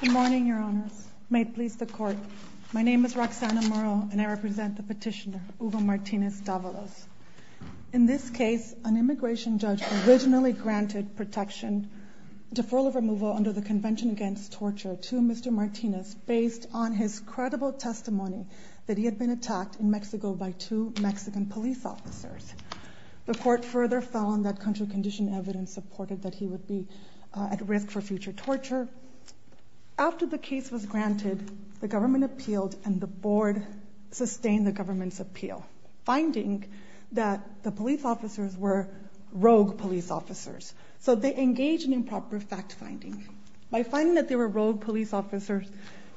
Good morning, Your Honors. May it please the Court, my name is Roxana Muro and I represent the petitioner, Hugo Martinez-Davalos. In this case, an immigration judge originally granted protection, deferral of removal under the Convention Against Torture to Mr. Martinez based on his credible testimony that he had been attacked in Mexico by two Mexican police officers. The Court further found that contrary condition evidence supported that he would be at risk for future torture. After the case was granted, the government appealed and the Board sustained the government's appeal, finding that the police officers were rogue police officers. So they engaged in improper fact-finding. By finding that they were rogue police officers,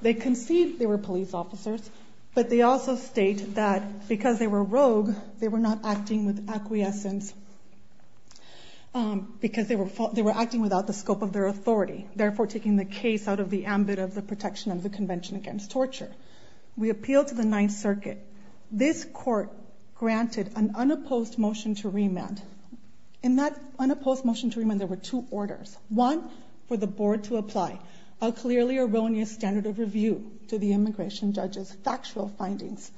they conceived they were police officers, but they also state that because they were rogue, they were not acting with acquiescence because they were acting without the scope of their authority, therefore taking the case out of the ambit of the protection of the Convention Against Torture. We appealed to the Ninth Circuit. This Court granted an unopposed motion to remand. In that unopposed motion to remand, there were two orders. One, for the Board to apply a clearly erroneous standard of review to the immigration judge's factual findings.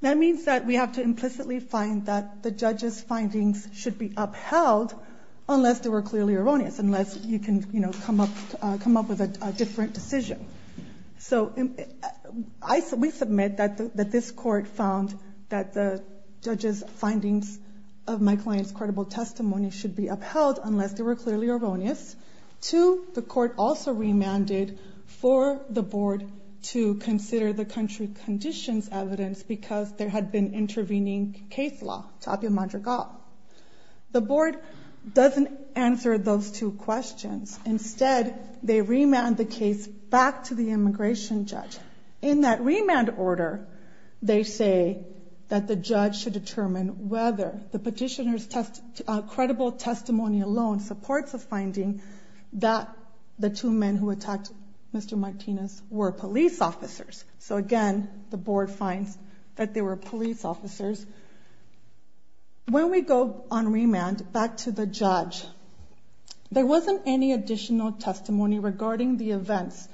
That means that we have to implicitly find that the judge's findings should be upheld unless they were clearly erroneous, unless you can, you know, come up with a different decision. So we submit that this Court found that the judge's findings of my client's credible testimony should be upheld unless they were clearly erroneous. Two, the Court also remanded for the Board to consider the country conditions evidence because there had been intervening case law, Tapia Madrigal. The Board doesn't answer those two questions. Instead, they remand the case back to the immigration judge. In that remand order, they say that the judge should determine whether the petitioner's credible testimony alone supports the finding that the two men who attacked Mr. Martinez were police officers. So again, the Board finds that they were police officers. When we go on remand back to the judge, there wasn't any additional testimony regarding the events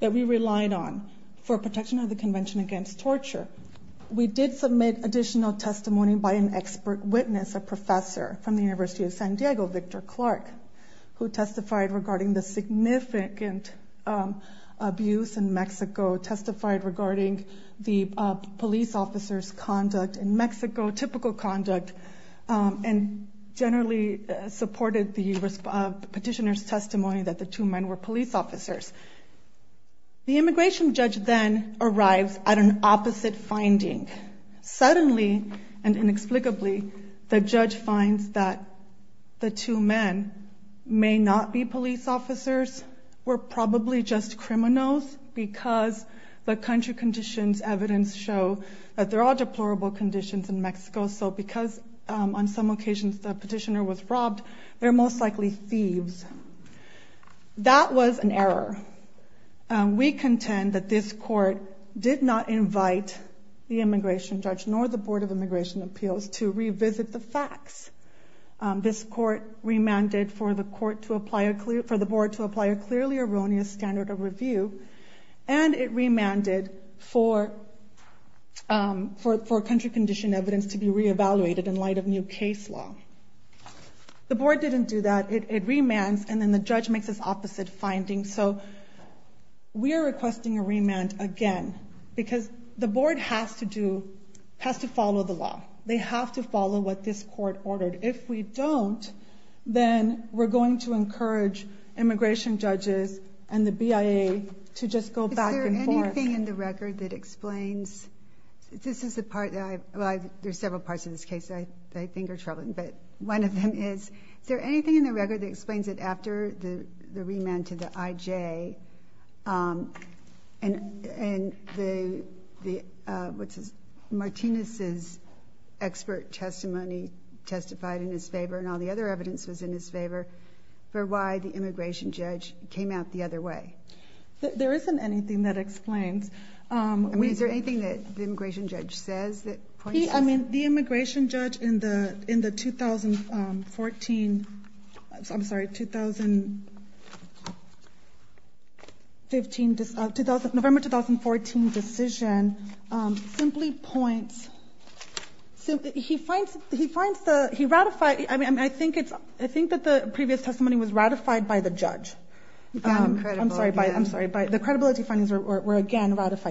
that we relied on for protection of the Convention Against Torture. We did submit additional testimony by an expert witness, a professor from the University of San Diego, Victor Clark, who testified regarding the significant abuse in Mexico, testified regarding the police officers' conduct in Mexico, typical conduct, and generally supported the petitioner's testimony that the two men were police officers. The immigration judge then arrives at an opposite finding. Suddenly and inexplicably, the judge finds that the two men may not be police officers, were probably just criminals because the country conditions evidence show that there are deplorable conditions in Mexico, so because on some occasions the petitioner was robbed, they're most likely thieves. That was an error. We contend that this court did not invite the immigration judge nor the Board of Immigration Appeals to revisit the facts. This court remanded for the Board to apply a clearly erroneous standard of review, and it remanded for country condition evidence to be re-evaluated in light of new case law. The board didn't do that. It remands, and then the judge makes this opposite finding. So we are requesting a remand again because the board has to do, has to follow the law. They have to follow what this court ordered. If we don't, then we're going to encourage immigration judges and the BIA to just go back and forth. Is there anything in the record that explains? This is the part that I, well, there's several parts of this case that I think are troubling, but one of them is, is there anything in the record that explains that after the remand to the IJ, and the, what's his, Martinez's expert testimony testified in his favor and all the other evidence was in his favor for why the immigration judge came out the other way? There isn't anything that explains. I mean, is there anything that the immigration judge says that points to this? I mean, the immigration judge in the 2014, I'm sorry, 2015, November 2014 decision simply points, he finds the, he ratified, I mean, I think it's, I think that the previous testimony was ratified by the judge. Again, incredible again.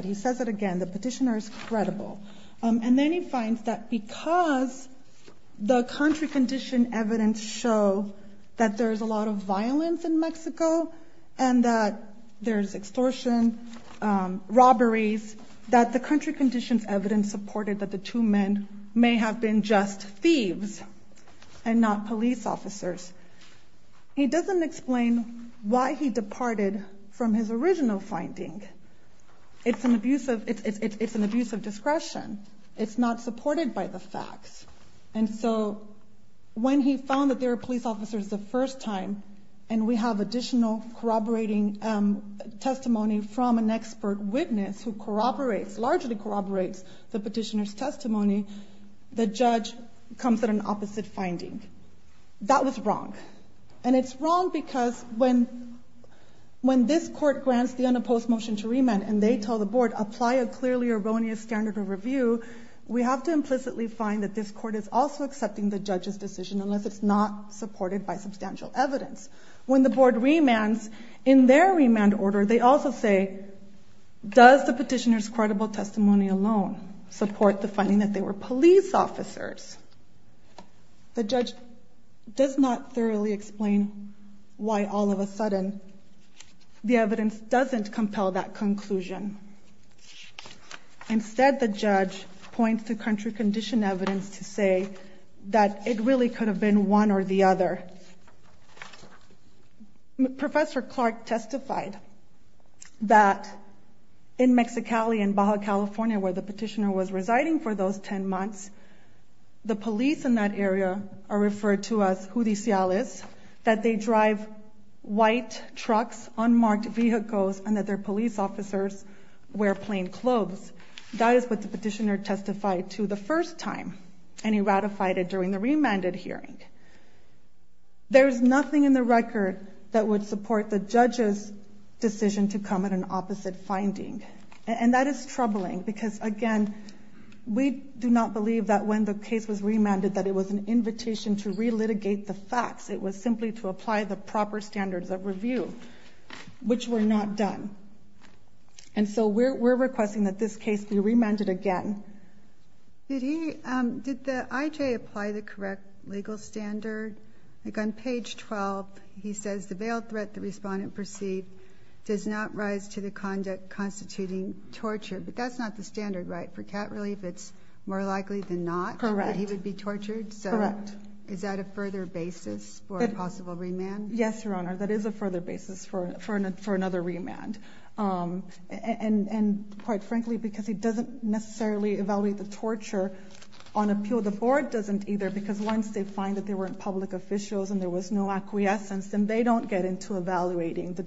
He says it again. The petitioner is credible. And then he finds that because the country condition evidence show that there's a lot of violence in Mexico and that there's extortion, robberies, that the country conditions evidence supported that the two men may have been just thieves and not police officers. He doesn't explain why he departed from his original finding. It's an abuse of, it's an abuse of discretion. It's not supported by the facts. And so when he found that they were police officers the first time, and we have additional corroborating testimony from an expert witness who corroborates, largely corroborates the petitioner's testimony, the judge comes at an opposite finding. That was wrong. And it's wrong because when this court grants the unopposed motion to remand and they tell the board, apply a clearly erroneous standard of review, we have to implicitly find that this court is also accepting the judge's decision unless it's not supported by substantial evidence. When the board remands in their remand order, they also say, does the petitioner's credible testimony alone support the finding that they were police officers? The judge does not thoroughly explain why all of a sudden the evidence doesn't compel that conclusion. Instead the judge points to country condition evidence to say that it really could have been one or the other. Professor Clark testified that in Mexicali in Baja California where the petitioner was residing for those 10 months, the police in that area are referred to as judiciales, that they drive white trucks, unmarked vehicles, and that their police officers wear plain clothes. That is what the petitioner testified to the first time, and he ratified it during the remanded hearing. There is nothing in the record that would support the judge's decision to come at an opposite finding. And that is troubling because, again, we do not believe that when the case was remanded that it was an invitation to relitigate the facts. It was simply to apply the proper standards of review, which were not done. And so we're requesting that this case be remanded again. Did the IJ apply the correct legal standard? Like on page 12, he says the bail threat the respondent perceived does not rise to the conduct constituting torture. But that's not the standard, right? For cat relief, it's more likely than not that he would be tortured? Correct. So is that a further basis for a possible remand? Yes, Your Honor. That is a further basis for another remand. And quite frankly, because he doesn't necessarily evaluate the torture on appeal, so the board doesn't either because once they find that there weren't public officials and there was no acquiescence, then they don't get into evaluating the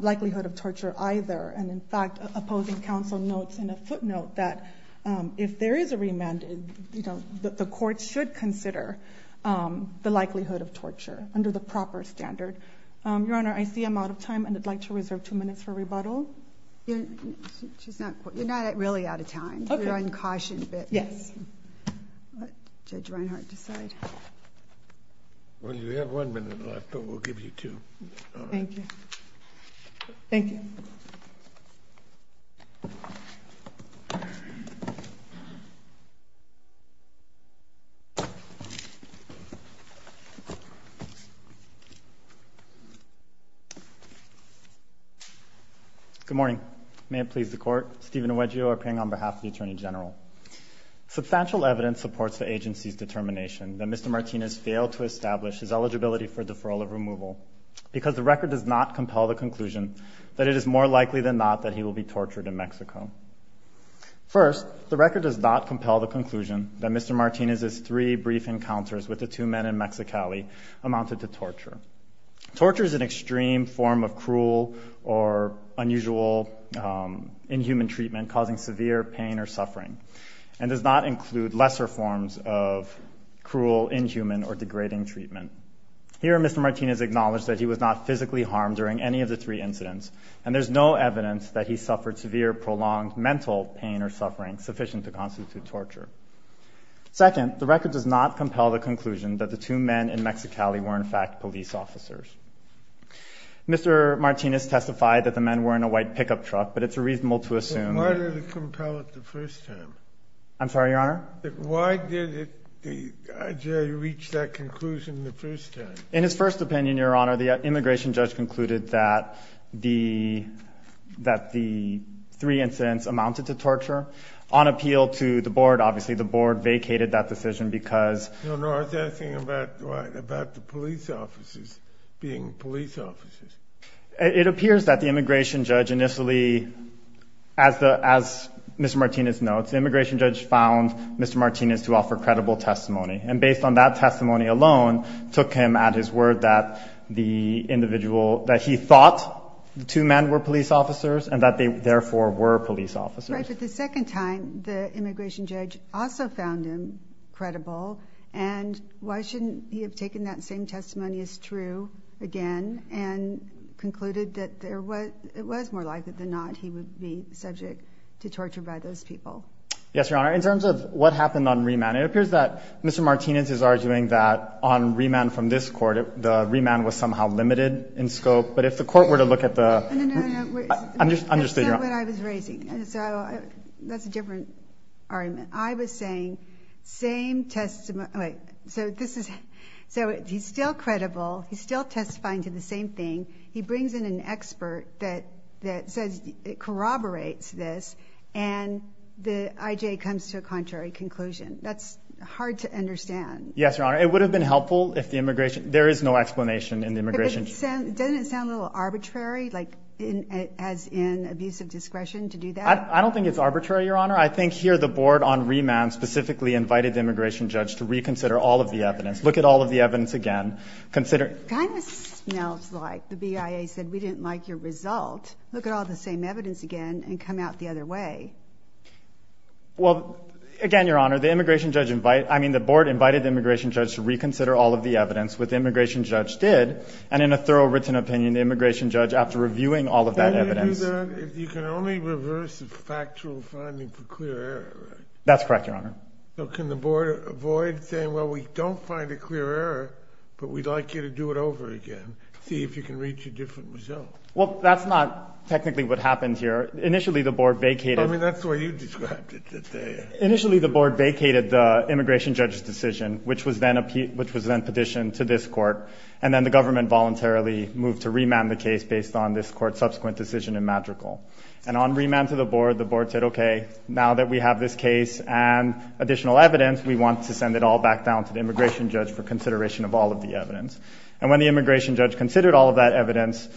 likelihood of torture either. And in fact, opposing counsel notes in a footnote that if there is a remand, the court should consider the likelihood of torture under the proper standard. Your Honor, I see I'm out of time, and I'd like to reserve two minutes for rebuttal. You're not really out of time. I'm drawing caution a bit. Yes. Let Judge Reinhart decide. Well, you have one minute left, but we'll give you two. Thank you. Thank you. Good morning. May it please the Court, Stephen Nogueiro appearing on behalf of the Attorney General. Substantial evidence supports the agency's determination that Mr. Martinez failed to establish his eligibility for deferral of removal because the record does not compel the conclusion that it is more likely than not that he will be tortured in Mexico. First, the record does not compel the conclusion that Mr. Martinez's three brief encounters with the two men in Mexicali amounted to torture. Torture is an extreme form of cruel or unusual inhuman treatment causing severe pain or suffering and does not include lesser forms of cruel, inhuman, or degrading treatment. Here, Mr. Martinez acknowledged that he was not physically harmed during any of the three incidents, and there's no evidence that he suffered severe, prolonged mental pain or suffering sufficient to constitute torture. Second, the record does not compel the conclusion that the two men in Mexicali were, in fact, police officers. Mr. Martinez testified that the men were in a white pickup truck, but it's reasonable to assume Why did it compel it the first time? I'm sorry, Your Honor? Why did it reach that conclusion the first time? In his first opinion, Your Honor, the immigration judge concluded that the three incidents amounted to torture. On appeal to the Board, obviously, the Board vacated that decision because Your Honor, I was asking about the police officers being police officers. It appears that the immigration judge initially, as Mr. Martinez notes, the immigration judge found Mr. Martinez to offer credible testimony, and based on that testimony alone, took him at his word that the individual, that he thought the two men were police officers and that they, therefore, were police officers. But the second time, the immigration judge also found him credible, and why shouldn't he have taken that same testimony as true again and concluded that it was more likely than not he would be subject to torture by those people? Yes, Your Honor. In terms of what happened on remand, it appears that Mr. Martinez is arguing that on remand from this court, the remand was somehow limited in scope, but if the court were to look at the No, no, no. I'm just saying That's not what I was raising. So that's a different argument. I was saying, same testimony. So he's still credible. He's still testifying to the same thing. He brings in an expert that corroborates this, and the IJ comes to a contrary conclusion. That's hard to understand. Yes, Your Honor. It would have been helpful if the immigration judge There is no explanation in the immigration judge. Doesn't it sound a little arbitrary, as in abuse of discretion to do that? I don't think it's arbitrary, Your Honor. I think here the board on remand specifically invited the immigration judge to reconsider all of the evidence. Look at all of the evidence again. It kind of smells like the BIA said, we didn't like your result. Look at all the same evidence again and come out the other way. Well, again, Your Honor, the board invited the immigration judge to reconsider all of the evidence, which the immigration judge did, and in a thorough written opinion, the immigration judge, after reviewing all of that evidence. You can only reverse the factual finding for clear error, right? That's correct, Your Honor. So can the board avoid saying, well, we don't find a clear error, but we'd like you to do it over again, see if you can reach a different result? Well, that's not technically what happened here. Initially, the board vacated. I mean, that's the way you described it. Initially, the board vacated the immigration judge's decision, which was then petitioned to this court, and then the government voluntarily moved to remand the case based on this court's subsequent decision in Madrigal. And on remand to the board, the board said, okay, now that we have this case and additional evidence, we want to send it all back down to the immigration judge for consideration of all of the evidence. And when the immigration judge considered all of that evidence,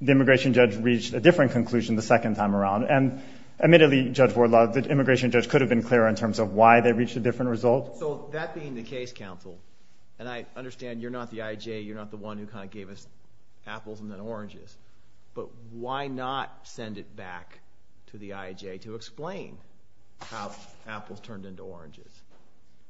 the immigration judge reached a different conclusion the second time around, and admittedly, Judge Wardlaw, the immigration judge could have been clearer in terms of why they reached a different result. So that being the case counsel, and I understand you're not the IJ, you're not the one who kind of gave us apples and then oranges, but why not send it back to the IJ to explain how apples turned into oranges?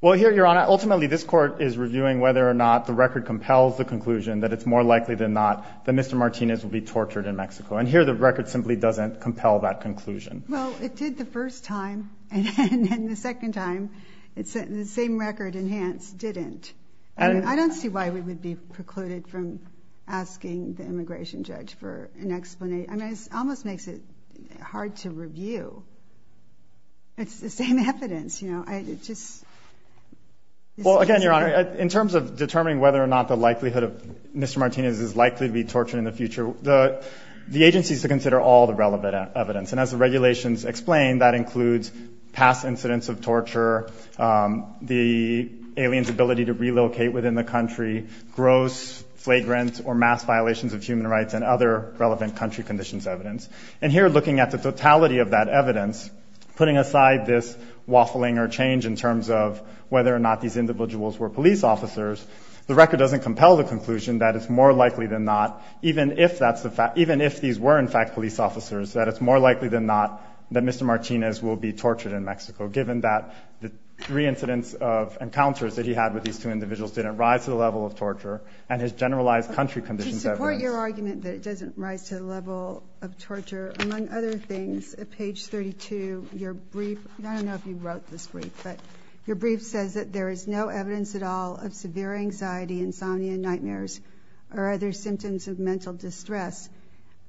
Well, here, Your Honor, ultimately this court is reviewing whether or not the record compels the conclusion that it's more likely than not that Mr. Martinez will be tortured in Mexico. And here, the record simply doesn't compel that conclusion. Well, it did the first time, and then the second time, the same record enhanced didn't. I don't see why we would be precluded from asking the immigration judge for an explanation. I mean, it almost makes it hard to review. It's the same evidence, you know? It just... Well, again, Your Honor, in terms of determining whether or not the likelihood of Mr. Martinez is likely to be tortured in the future, the agency is to consider all the relevant evidence. And as the regulations explain, that includes past incidents of torture, the alien's ability to relocate within the country, gross, flagrant, or mass violations of human rights, and other relevant country conditions evidence. And here, looking at the totality of that evidence, putting aside this waffling or change in terms of whether or not these individuals were police officers, the record doesn't compel the conclusion that it's more likely than not, even if these were, in fact, police officers, that it's more likely than not that Mr. Martinez will be tortured in Mexico, given that the three incidents of encounters that he had with these two individuals didn't rise to the level of torture, and his generalized country conditions evidence... To support your argument that it doesn't rise to the level of torture, among other things, at page 32, your brief... I don't know if you wrote this brief, but your brief says that there is no evidence at all of severe anxiety, insomnia, nightmares, or other symptoms of mental distress.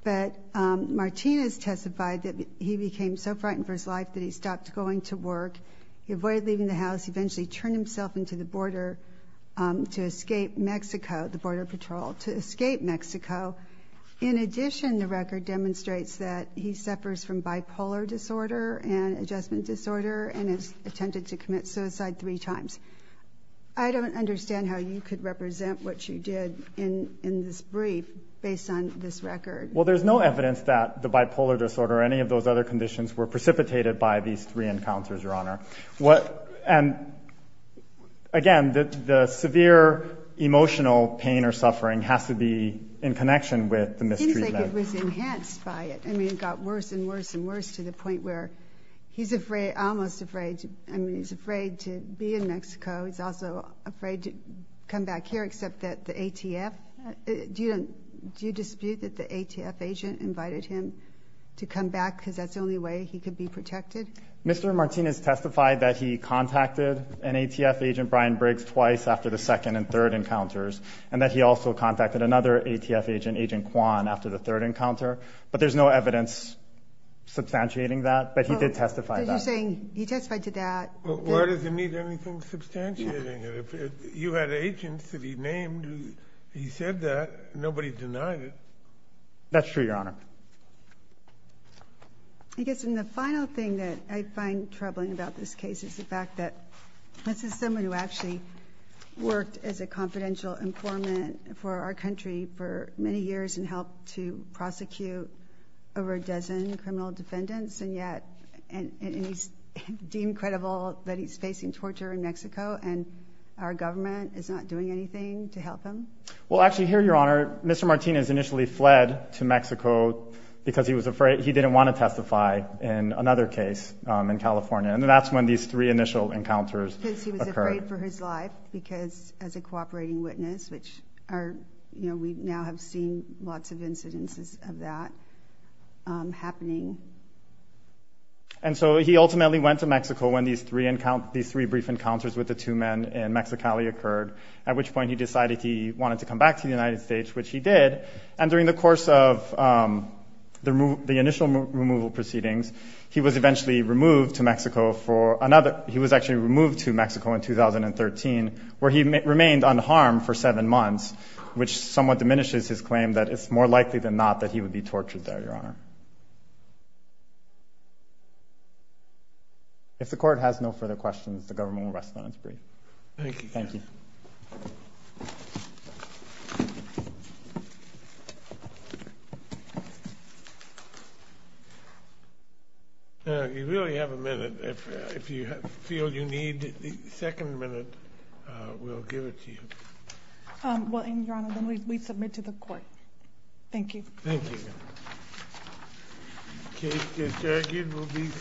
But Martinez testified that he became so frightened for his life that he stopped going to work. He avoided leaving the house. He eventually turned himself into the border to escape Mexico, the border patrol, to escape Mexico. In addition, the record demonstrates that he suffers from bipolar disorder and adjustment disorder, and has attempted to commit suicide three times. I don't understand how you could represent what you did in this brief based on this record. Well, there's no evidence that the bipolar disorder or any of those other conditions were precipitated by these three encounters, Your Honor. And, again, the severe emotional pain or suffering has to be in connection with the mistreatment. It seems like it was enhanced by it. I mean, it got worse and worse and worse to the point where he's almost afraid... I mean, he's afraid to be in Mexico. He's also afraid to come back here, except that the ATF... Do you dispute that the ATF agent invited him to come back because that's the only way he could be protected? Mr. Martinez testified that he contacted an ATF agent, Brian Briggs, twice after the second and third encounters, and that he also contacted another ATF agent, Agent Kwan, after the third encounter, but there's no evidence substantiating that, but he did testify that. But you're saying he testified to that... Well, where does it need anything substantiating it? If you had agents that he named who he said that, nobody denied it. That's true, Your Honor. I guess, and the final thing that I find troubling about this case is the fact that this is someone who actually worked as a confidential informant for our country for many years and helped to prosecute over a dozen criminal defendants, and yet... And he's deemed credible that he's facing torture in Mexico, and our government is not doing anything to help him? Well, actually, here, Your Honor, Mr. Martinez initially fled to Mexico because he was afraid... He didn't want to testify in another case in California, and that's when these three initial encounters occurred. Because he was afraid for his life, because as a cooperating witness, which are... You know, we now have seen lots of incidences of that happening. And so he ultimately went to Mexico when these three brief encounters with the two men in Mexicali occurred, at which point he decided he wanted to come back to the United States, which he did, and during the course of the initial removal proceedings, he was eventually removed to Mexico for another... He was actually removed to Mexico in 2013, where he remained unharmed for seven months, which somewhat diminishes his claim that it's more likely than not that he would be tortured there, Your Honor. If the court has no further questions, the government will rest on its brief. Thank you. Thank you. Thank you. You really have a minute. If you feel you need the second minute, we'll give it to you. Well, Your Honor, then we submit to the court. Thank you. Thank you, Your Honor. The case is argued.